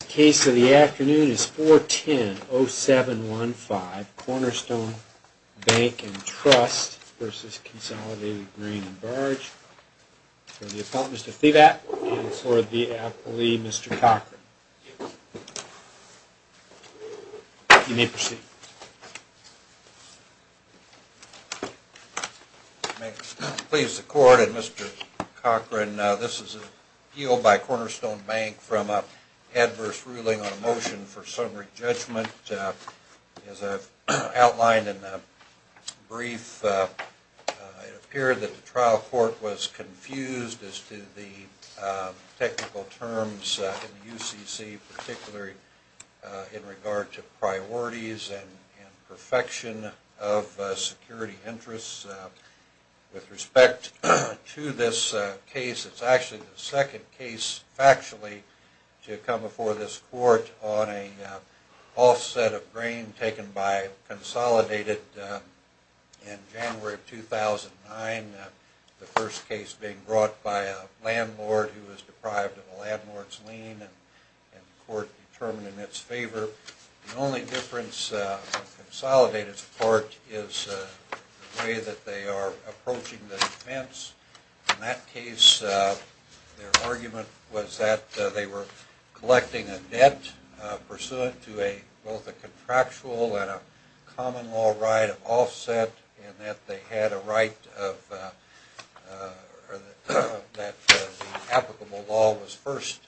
The case of the afternoon is 410-0715, Cornerstone Bank and Trust v. Consolidated Grain and Barge, for the appellant, Mr. Thibatt, and for the appellee, Mr. Cochran. You may proceed. May it please the court and Mr. Cochran, this is an appeal by Cornerstone Bank from an adverse ruling on a motion for summary judgment. As I've outlined in the brief, it appeared that the trial court was confused as to the technical terms in the UCC, particularly in regard to priorities and perfection of security interests. With respect to this case, it's actually the second case, factually, to come before this court on an offset of grain taken by Consolidated in January of 2009, the first case being brought by a landlord who was deprived of a landlord's lien and the court determined in its favor. The only difference of Consolidated's part is the way that they are approaching the defense. In that case, their argument was that they were collecting a debt pursuant to both a contractual and a common law right of offset, and that they had a right that the applicable law was first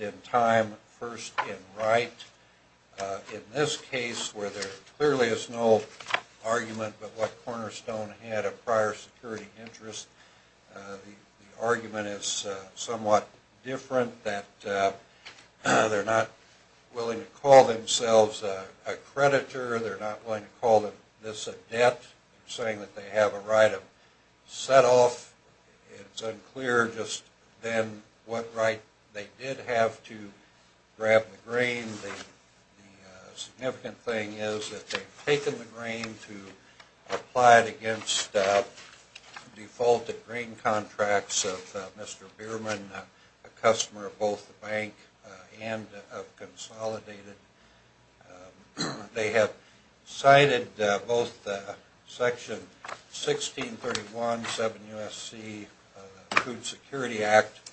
in time, first in writing. In this case, where there clearly is no argument but what Cornerstone had a prior security interest, the argument is somewhat different, that they're not willing to call themselves a creditor, they're not willing to call this a debt, saying that they have a right of set-off. It's unclear just then what right they did have to grab the grain. The significant thing is that they've taken the grain to apply it against defaulted grain contracts of Mr. Bierman, a customer of both the bank and of Consolidated. They have cited both Section 1631 of the 7 U.S.C. Food Security Act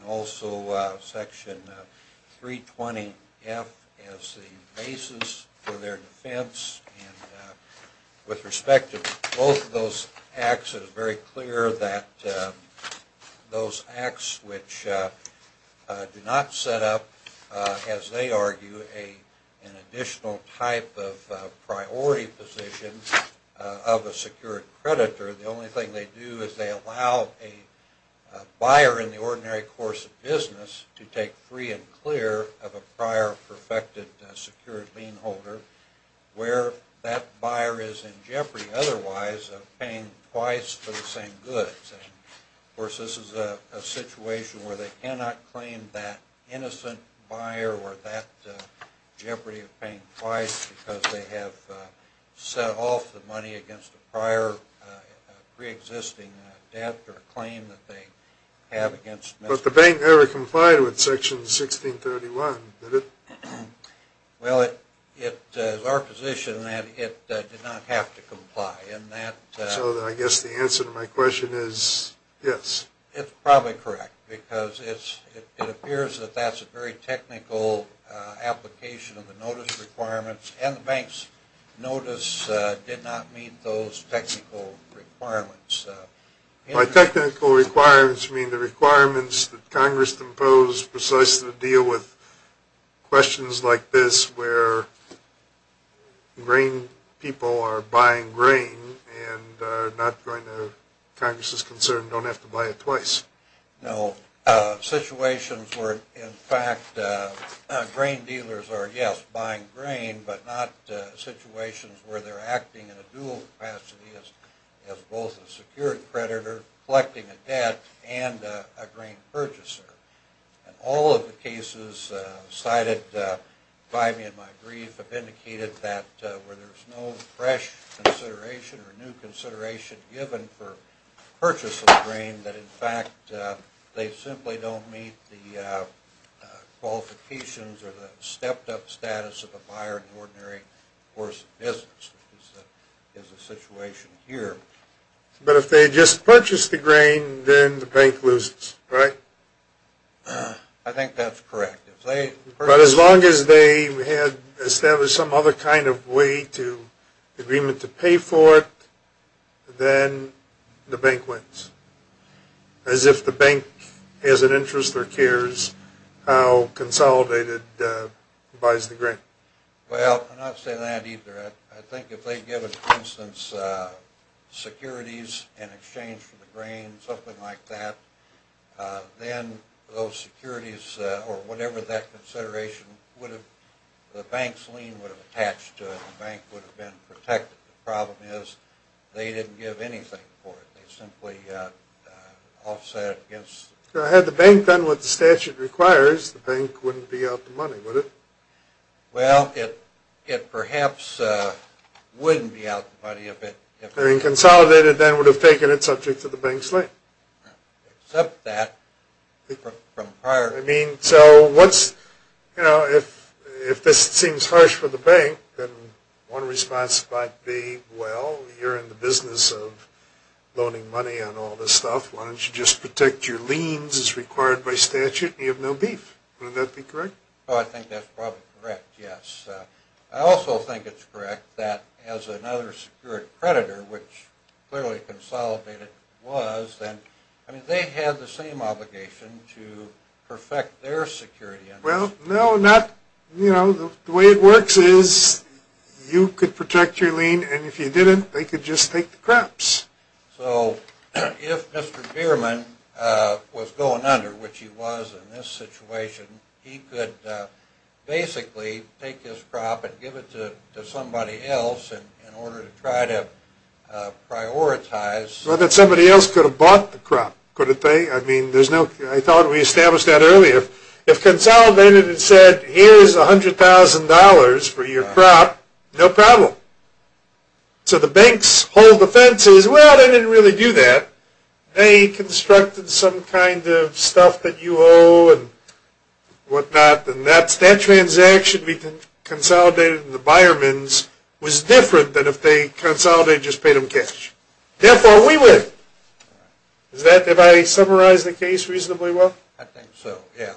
and also Section 320F as the basis for their defense. With respect to both of those acts, it is very clear that those acts which do not set up, as they argue, an additional type of priority position of a secured creditor, the only thing they do is they allow a buyer in the ordinary course of business to take free and clear of a prior perfected secured beanholder, where that buyer is in jeopardy otherwise of paying twice for the same goods. Of course, this is a situation where they cannot claim that innocent buyer or that jeopardy of paying twice because they have set off the money against a prior pre-existing debt or claim that they have against Mr. Bierman. But the bank never complied with Section 1631, did it? Well, it is our position that it did not have to comply. So I guess the answer to my question is yes. It's probably correct because it appears that that's a very technical application of the notice requirements and the bank's notice did not meet those technical requirements. My technical requirements mean the requirements that Congress imposed precisely to deal with questions like this where grain people are buying grain and are not going to, Congress is concerned, don't have to buy it twice. No. Situations where in fact grain dealers are, yes, buying grain, but not situations where they're acting in a dual capacity as both a secured creditor collecting a debt and a grain purchaser. And all of the cases cited by me in my brief have indicated that where there's no fresh consideration or new consideration given for purchase of the grain, that in fact they simply don't meet the qualifications or the stepped up status of a buyer in the ordinary course of business, which is the situation here. But if they just purchase the grain, then the bank loses, right? I think that's correct. But as long as they had established some other kind of way to, agreement to pay for it, then the bank wins. As if the bank has an interest or cares how consolidated buys the grain. Well, I'm not saying that either. I think if they'd given, for instance, securities in exchange for the grain, something like that, then those securities or whatever that consideration would have, the bank's lien would have attached to it. The bank would have been protected. The problem is they didn't give anything for it. They simply offset against it. So had the bank done what the statute requires, the bank wouldn't be out the money, would it? Well, it perhaps wouldn't be out the money if it... I mean, consolidated then would have taken it subject to the bank's lien. Except that, from prior... I mean, so once, you know, if this seems harsh for the bank, then one response might be, well, you're in the business of loaning money on all this stuff. Why don't you just protect your liens as required by statute? You have no beef. Wouldn't that be correct? Oh, I think that's probably correct, yes. I also think it's correct that as another secured creditor, which clearly consolidated was, then, I mean, they had the same obligation to perfect their security. Well, no, not... You know, the way it works is you could protect your lien, and if you didn't, they could just take the crops. So if Mr. Bierman was going under, which he was in this situation, he could basically take his crop and give it to somebody else in order to try to prioritize... Well, then somebody else could have bought the crop, couldn't they? I mean, there's no... I thought we established that earlier. If consolidated had said, here's $100,000 for your crop, no problem. So the banks hold the fences. Well, they didn't really do that. They constructed some kind of stuff that you owe and whatnot, and that transaction we consolidated in the Bierman's was different than if they consolidated and just paid them cash. Therefore, we win. Does that... have I summarized the case reasonably well? I think so, yeah.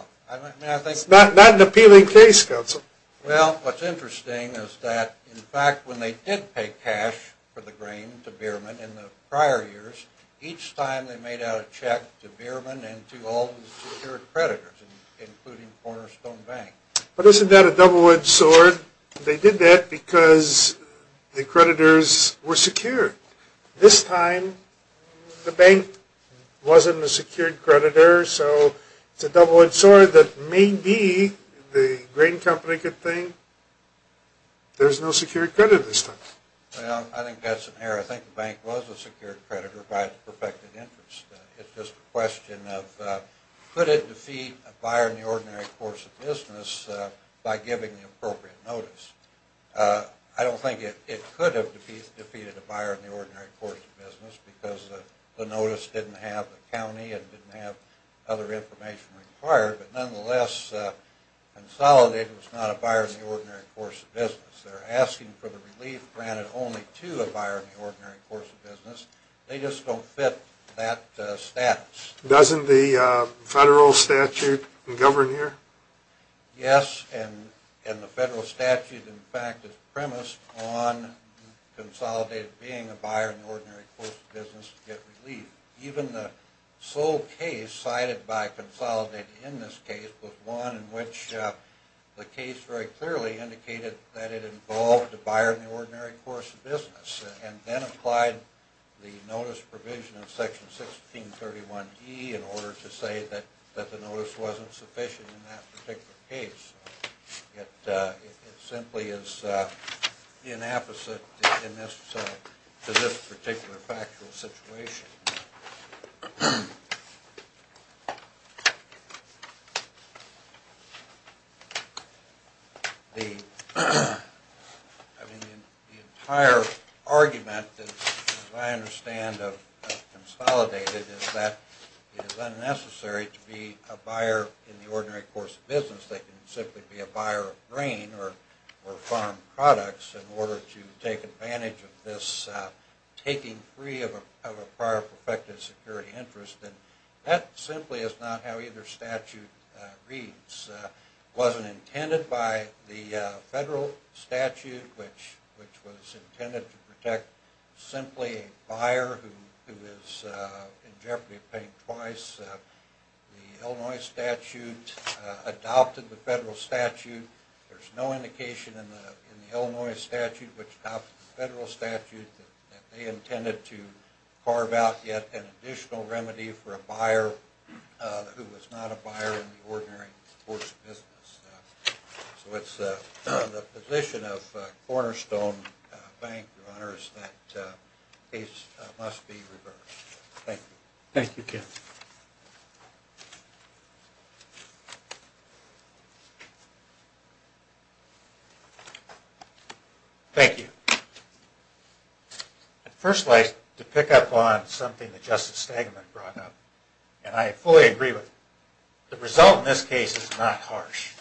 It's not an appealing case, counsel. Well, what's interesting is that, in fact, when they did pay cash for the grain to Bierman in the prior years, each time they made out a check to Bierman and to all the secured creditors, including Cornerstone Bank. But isn't that a double-edged sword? They did that because the creditors were secure. This time, the bank wasn't a secured creditor, so it's a double-edged sword that maybe the grain company could think, there's no secured creditor this time. Well, I think that's an error. I think the bank was a secured creditor by its perfected interest. It's just a question of, could it defeat a buyer in the ordinary course of business by giving the appropriate notice? I don't think it could have defeated a buyer in the ordinary course of business because the notice didn't have a county and didn't have other information required. But nonetheless, consolidated was not a buyer in the ordinary course of business. They're asking for the relief granted only to a buyer in the ordinary course of business. They just don't fit that status. Doesn't the federal statute govern here? Yes, and the federal statute, in fact, is premised on consolidated being a buyer in the ordinary course of business to get relief. Even the sole case cited by consolidated in this case was one in which the case very clearly indicated that it involved a buyer in the ordinary course of business and then applied the notice provision of Section 1631E in order to say that the notice wasn't sufficient in that particular case. It simply is inapposite to this particular factual situation. The entire argument that I understand of consolidated is that it is unnecessary to be a buyer in the ordinary course of business. They can simply be a buyer of grain or farm products in order to take advantage of this taking free of a prior protective security interest. That simply is not how either statute reads. It wasn't intended by the federal statute, which was intended to protect simply a buyer who is in jeopardy of paying twice. The Illinois statute adopted the federal statute. There's no indication in the Illinois statute, which adopted the federal statute, that they intended to carve out yet an additional remedy for a buyer who was not a buyer in the ordinary course of business. So it's the position of cornerstone bank runners that the case must be reversed. Thank you. Thank you, Ken. Thank you. I'd first like to pick up on something that Justice Stegman brought up, and I fully agree with him. The result in this case is not harsh.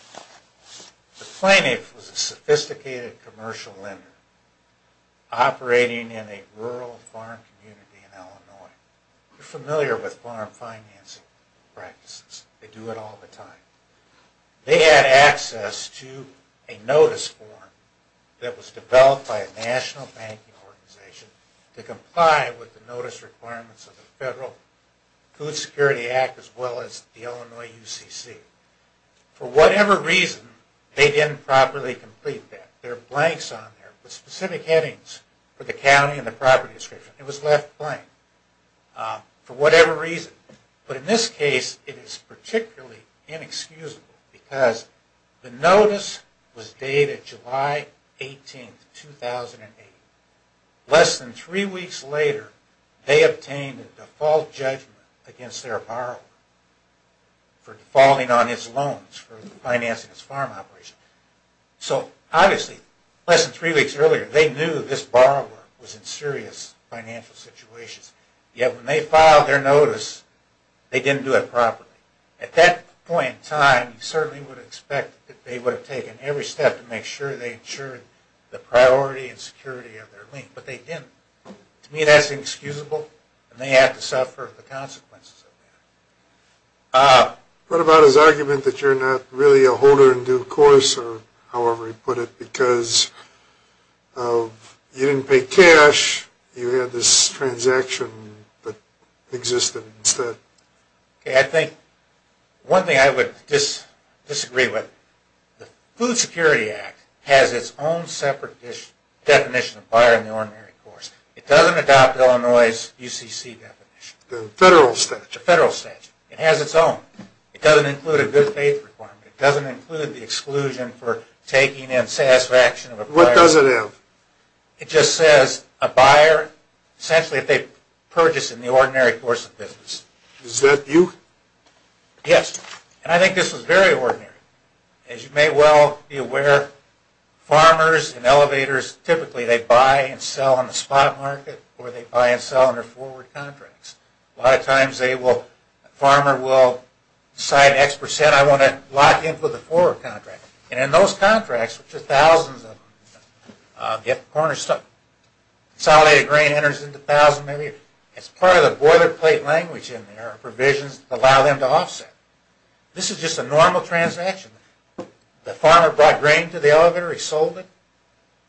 The plaintiff was a sophisticated commercial lender operating in a rural farm community in Illinois. You're familiar with farm financing practices. They do it all the time. They had access to a notice form that was developed by a national banking organization to comply with the notice requirements of the Federal Food Security Act, as well as the Illinois UCC. For whatever reason, they didn't properly complete that. There are blanks on there with specific headings for the county and the property description. It was left blank for whatever reason. But in this case, it is particularly inexcusable because the notice was dated July 18, 2008. Less than three weeks later, they obtained a default judgment against their borrower for defaulting on his loans for financing his farm operation. So obviously, less than three weeks earlier, they knew this borrower was in serious financial situations. Yet when they filed their notice, they didn't do it properly. At that point in time, you certainly would expect that they would have taken every step to make sure they ensured the priority and security of their lien. But they didn't. To me, that's inexcusable, and they have to suffer the consequences of that. What about his argument that you're not really a holder in due course, or however he put it, because you didn't pay cash, you had this transaction that existed instead? I think one thing I would disagree with, the Food Security Act has its own separate definition of buyer in the ordinary course. It doesn't adopt Illinois' UCC definition. The federal statute. The federal statute. It has its own. It doesn't include a good faith requirement. It doesn't include the exclusion for taking in satisfaction of a buyer. What does it have? It just says a buyer, essentially if they purchase in the ordinary course of business. Is that you? Yes. And I think this was very ordinary. As you may well be aware, farmers and elevators, typically they buy and sell on the spot market, or they buy and sell under forward contracts. A lot of times a farmer will sign X percent, I want to lock in for the forward contract. And in those contracts, which are thousands of them, consolidated grain enters into thousands, it's part of the boilerplate language in there, provisions that allow them to offset. This is just a normal transaction. The farmer brought grain to the elevator, he sold it.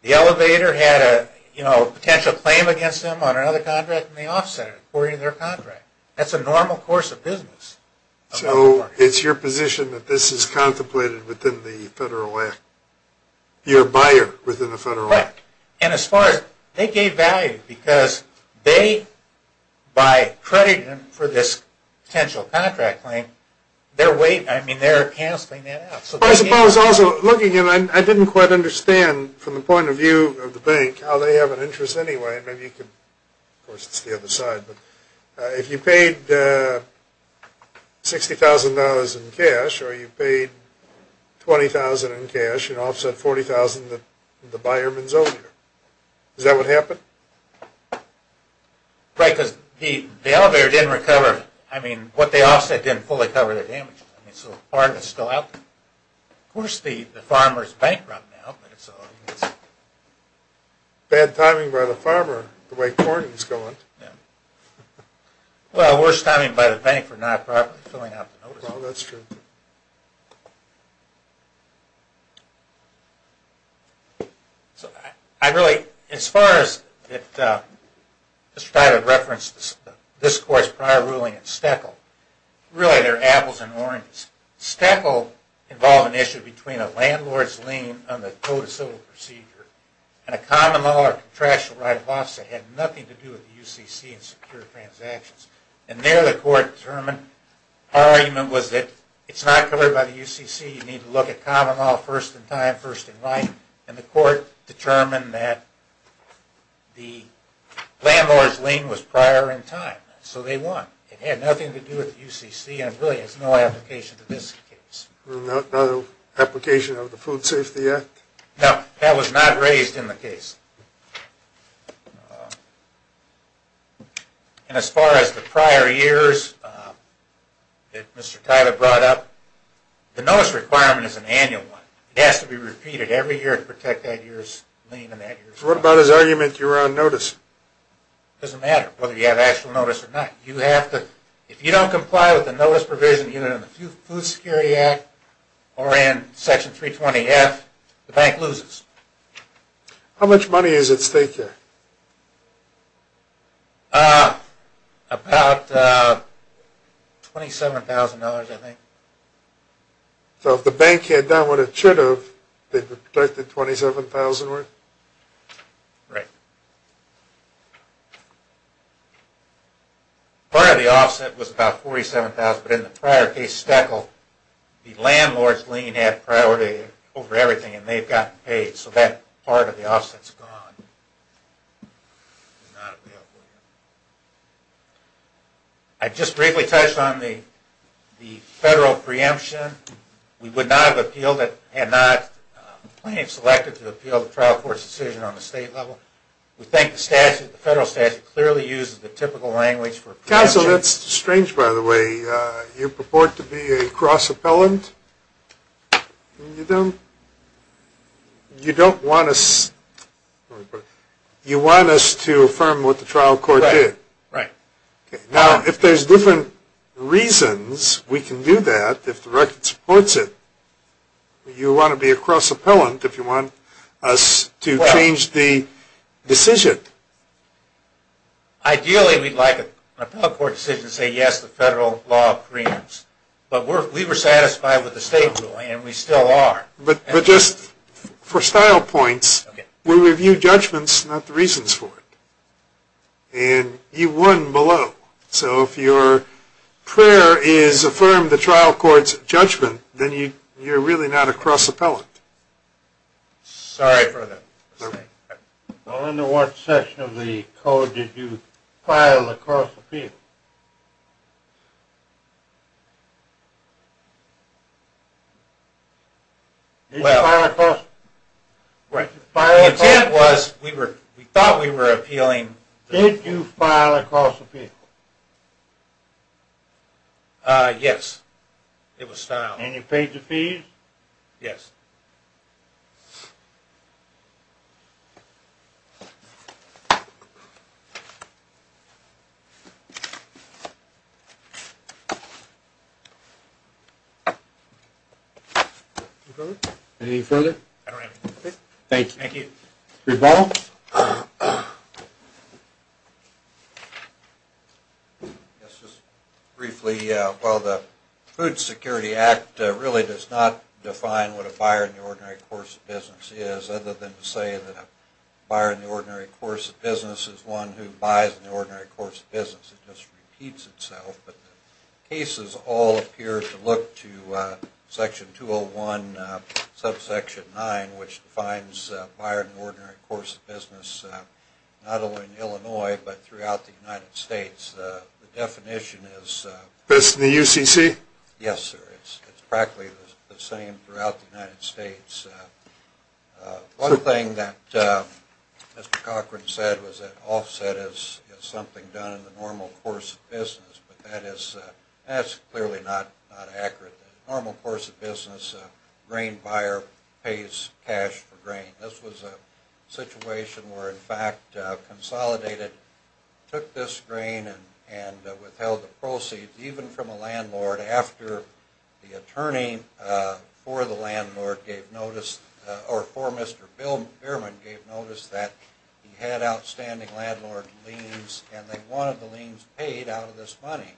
The elevator had a potential claim against him on another contract, and they offset it according to their contract. That's a normal course of business. So it's your position that this is contemplated within the Federal Act? You're a buyer within the Federal Act. Correct. And as far as, they gave value because they, by credit for this potential contract claim, they're weight, I mean they're canceling that out. I suppose also, looking at it, I didn't quite understand from the point of view of the bank how they have an interest anyway. Of course, it's the other side. If you paid $60,000 in cash, or you paid $20,000 in cash, and offset $40,000, the buyer wins over. Is that what happened? Right, because the elevator didn't recover, I mean, what they offset didn't fully recover the damage. So part of it's still out there. Of course, the farmer's bankrupt now. Bad timing by the farmer, the way Corning's going. Yeah. Well, worse timing by the bank for not properly filling out the notice. Well, that's true. So, I really, as far as, let's try to reference this court's prior ruling in Steckel. Really, they're apples and oranges. Steckel involved an issue between a landlord's lien on the Code of Civil Procedure and a common law or contractual right of offset. It had nothing to do with the UCC and secure transactions. And there, the court determined, our argument was that it's not covered by the UCC. You need to look at common law first in time, first in writing. And the court determined that the landlord's lien was prior in time, so they won. It had nothing to do with the UCC and really has no application to this case. No application of the Food Safety Act? No, that was not raised in the case. And as far as the prior years that Mr. Tyler brought up, the notice requirement is an annual one. It has to be repeated every year to protect that year's lien and that year's contract. So what about his argument you were on notice? It doesn't matter whether you have actual notice or not. If you don't comply with the notice provision in the Food Security Act or in Section 320F, the bank loses. How much money is at stake here? About $27,000, I think. So if the bank had done what it should have, they protected $27,000 worth? Right. Part of the offset was about $47,000, but in the prior case, Steckle, the landlord's lien had priority over everything and they've gotten paid, so that part of the offset is gone. I just briefly touched on the federal preemption. We would not have appealed it and not selected to appeal the trial court's decision on the state level. We think the statute, the federal statute, clearly uses the typical language for preemption. Counsel, that's strange, by the way. You purport to be a cross-appellant? You don't want us to affirm what the trial court did? Right. Now, if there's different reasons we can do that, if the record supports it, you want to be a cross-appellant if you want us to change the decision. Ideally, we'd like an appellate court decision to say, yes, the federal law preempts. But we were satisfied with the state ruling, and we still are. But just for style points, we review judgments, not the reasons for it. And you won below. So if your prayer is affirmed the trial court's judgment, then you're really not a cross-appellant. Sorry for that mistake. Under what section of the code did you file a cross-appeal? Did you file a cross-appeal? The intent was we thought we were appealing. Did you file a cross-appeal? Yes, it was style. And you paid the fees? Yes. Any further? I don't have anything to say. Thank you. Thank you. Rebuttal? Yes, just briefly. Well, the Food Security Act really does not define what a buyer in the ordinary course of business does. It does not define what a buyer in the ordinary course of business does. Other than to say that a buyer in the ordinary course of business is one who buys in the ordinary course of business. It just repeats itself. But the cases all appear to look to Section 201, Subsection 9, which defines a buyer in the ordinary course of business, not only in Illinois but throughout the United States. The definition is… This in the UCC? Yes, sir. It's practically the same throughout the United States. One thing that Mr. Cochran said was that offset is something done in the normal course of business, but that is clearly not accurate. In the normal course of business, a grain buyer pays cash for grain. This was a situation where, in fact, Consolidated took this grain and withheld the proceeds, even from a landlord, after the attorney for the landlord gave notice, or for Mr. Bierman gave notice that he had outstanding landlord liens, and they wanted the liens paid out of this money.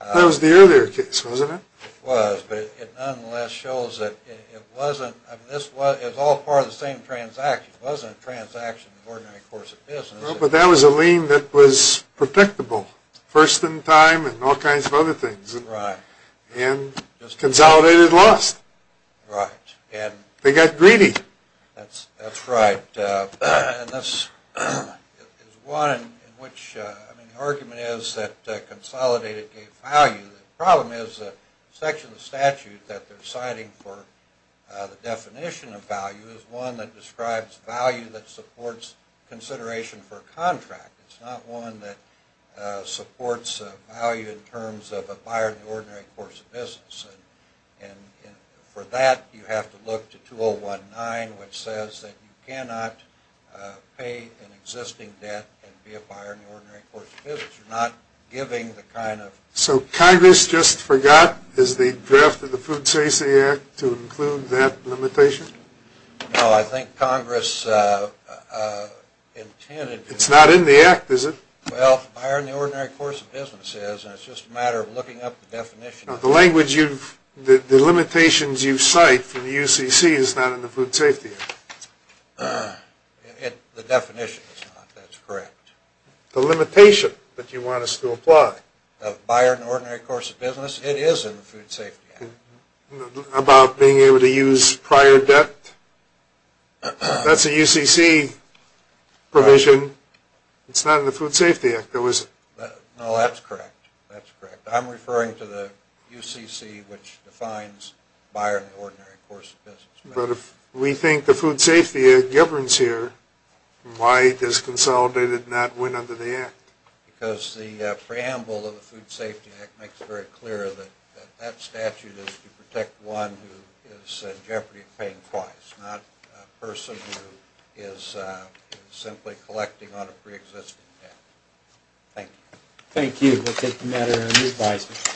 That was the earlier case, wasn't it? It was, but it nonetheless shows that it wasn't… It was all part of the same transaction. It wasn't a transaction in the ordinary course of business. But that was a lien that was predictable, first in time and all kinds of other things. Right. And Consolidated lost. Right. They got greedy. That's right. And this is one in which the argument is that Consolidated gave value. The problem is the section of the statute that they're citing for the definition of value is one that describes value that supports consideration for a contract. It's not one that supports value in terms of a buyer in the ordinary course of business. And for that, you have to look to 2019, which says that you cannot pay an existing debt and be a buyer in the ordinary course of business. You're not giving the kind of… So Congress just forgot, is the draft of the Food Safety Act, to include that limitation? No, I think Congress intended to… It's not in the Act, is it? Well, buyer in the ordinary course of business is. And it's just a matter of looking up the definition. Now, the language you've – the limitations you cite from the UCC is not in the Food Safety Act. The definition is not, that's correct. The limitation that you want us to apply. Buyer in the ordinary course of business, it is in the Food Safety Act. About being able to use prior debt? That's a UCC provision. It's not in the Food Safety Act, though, is it? No, that's correct. I'm referring to the UCC, which defines buyer in the ordinary course of business. But if we think the Food Safety Act governs here, why does consolidated not win under the Act? Because the preamble of the Food Safety Act makes it very clear that that statute is to protect one who is in jeopardy of paying twice, not a person who is simply collecting on a preexisting debt. Thank you. Thank you. We'll take the matter under advisement.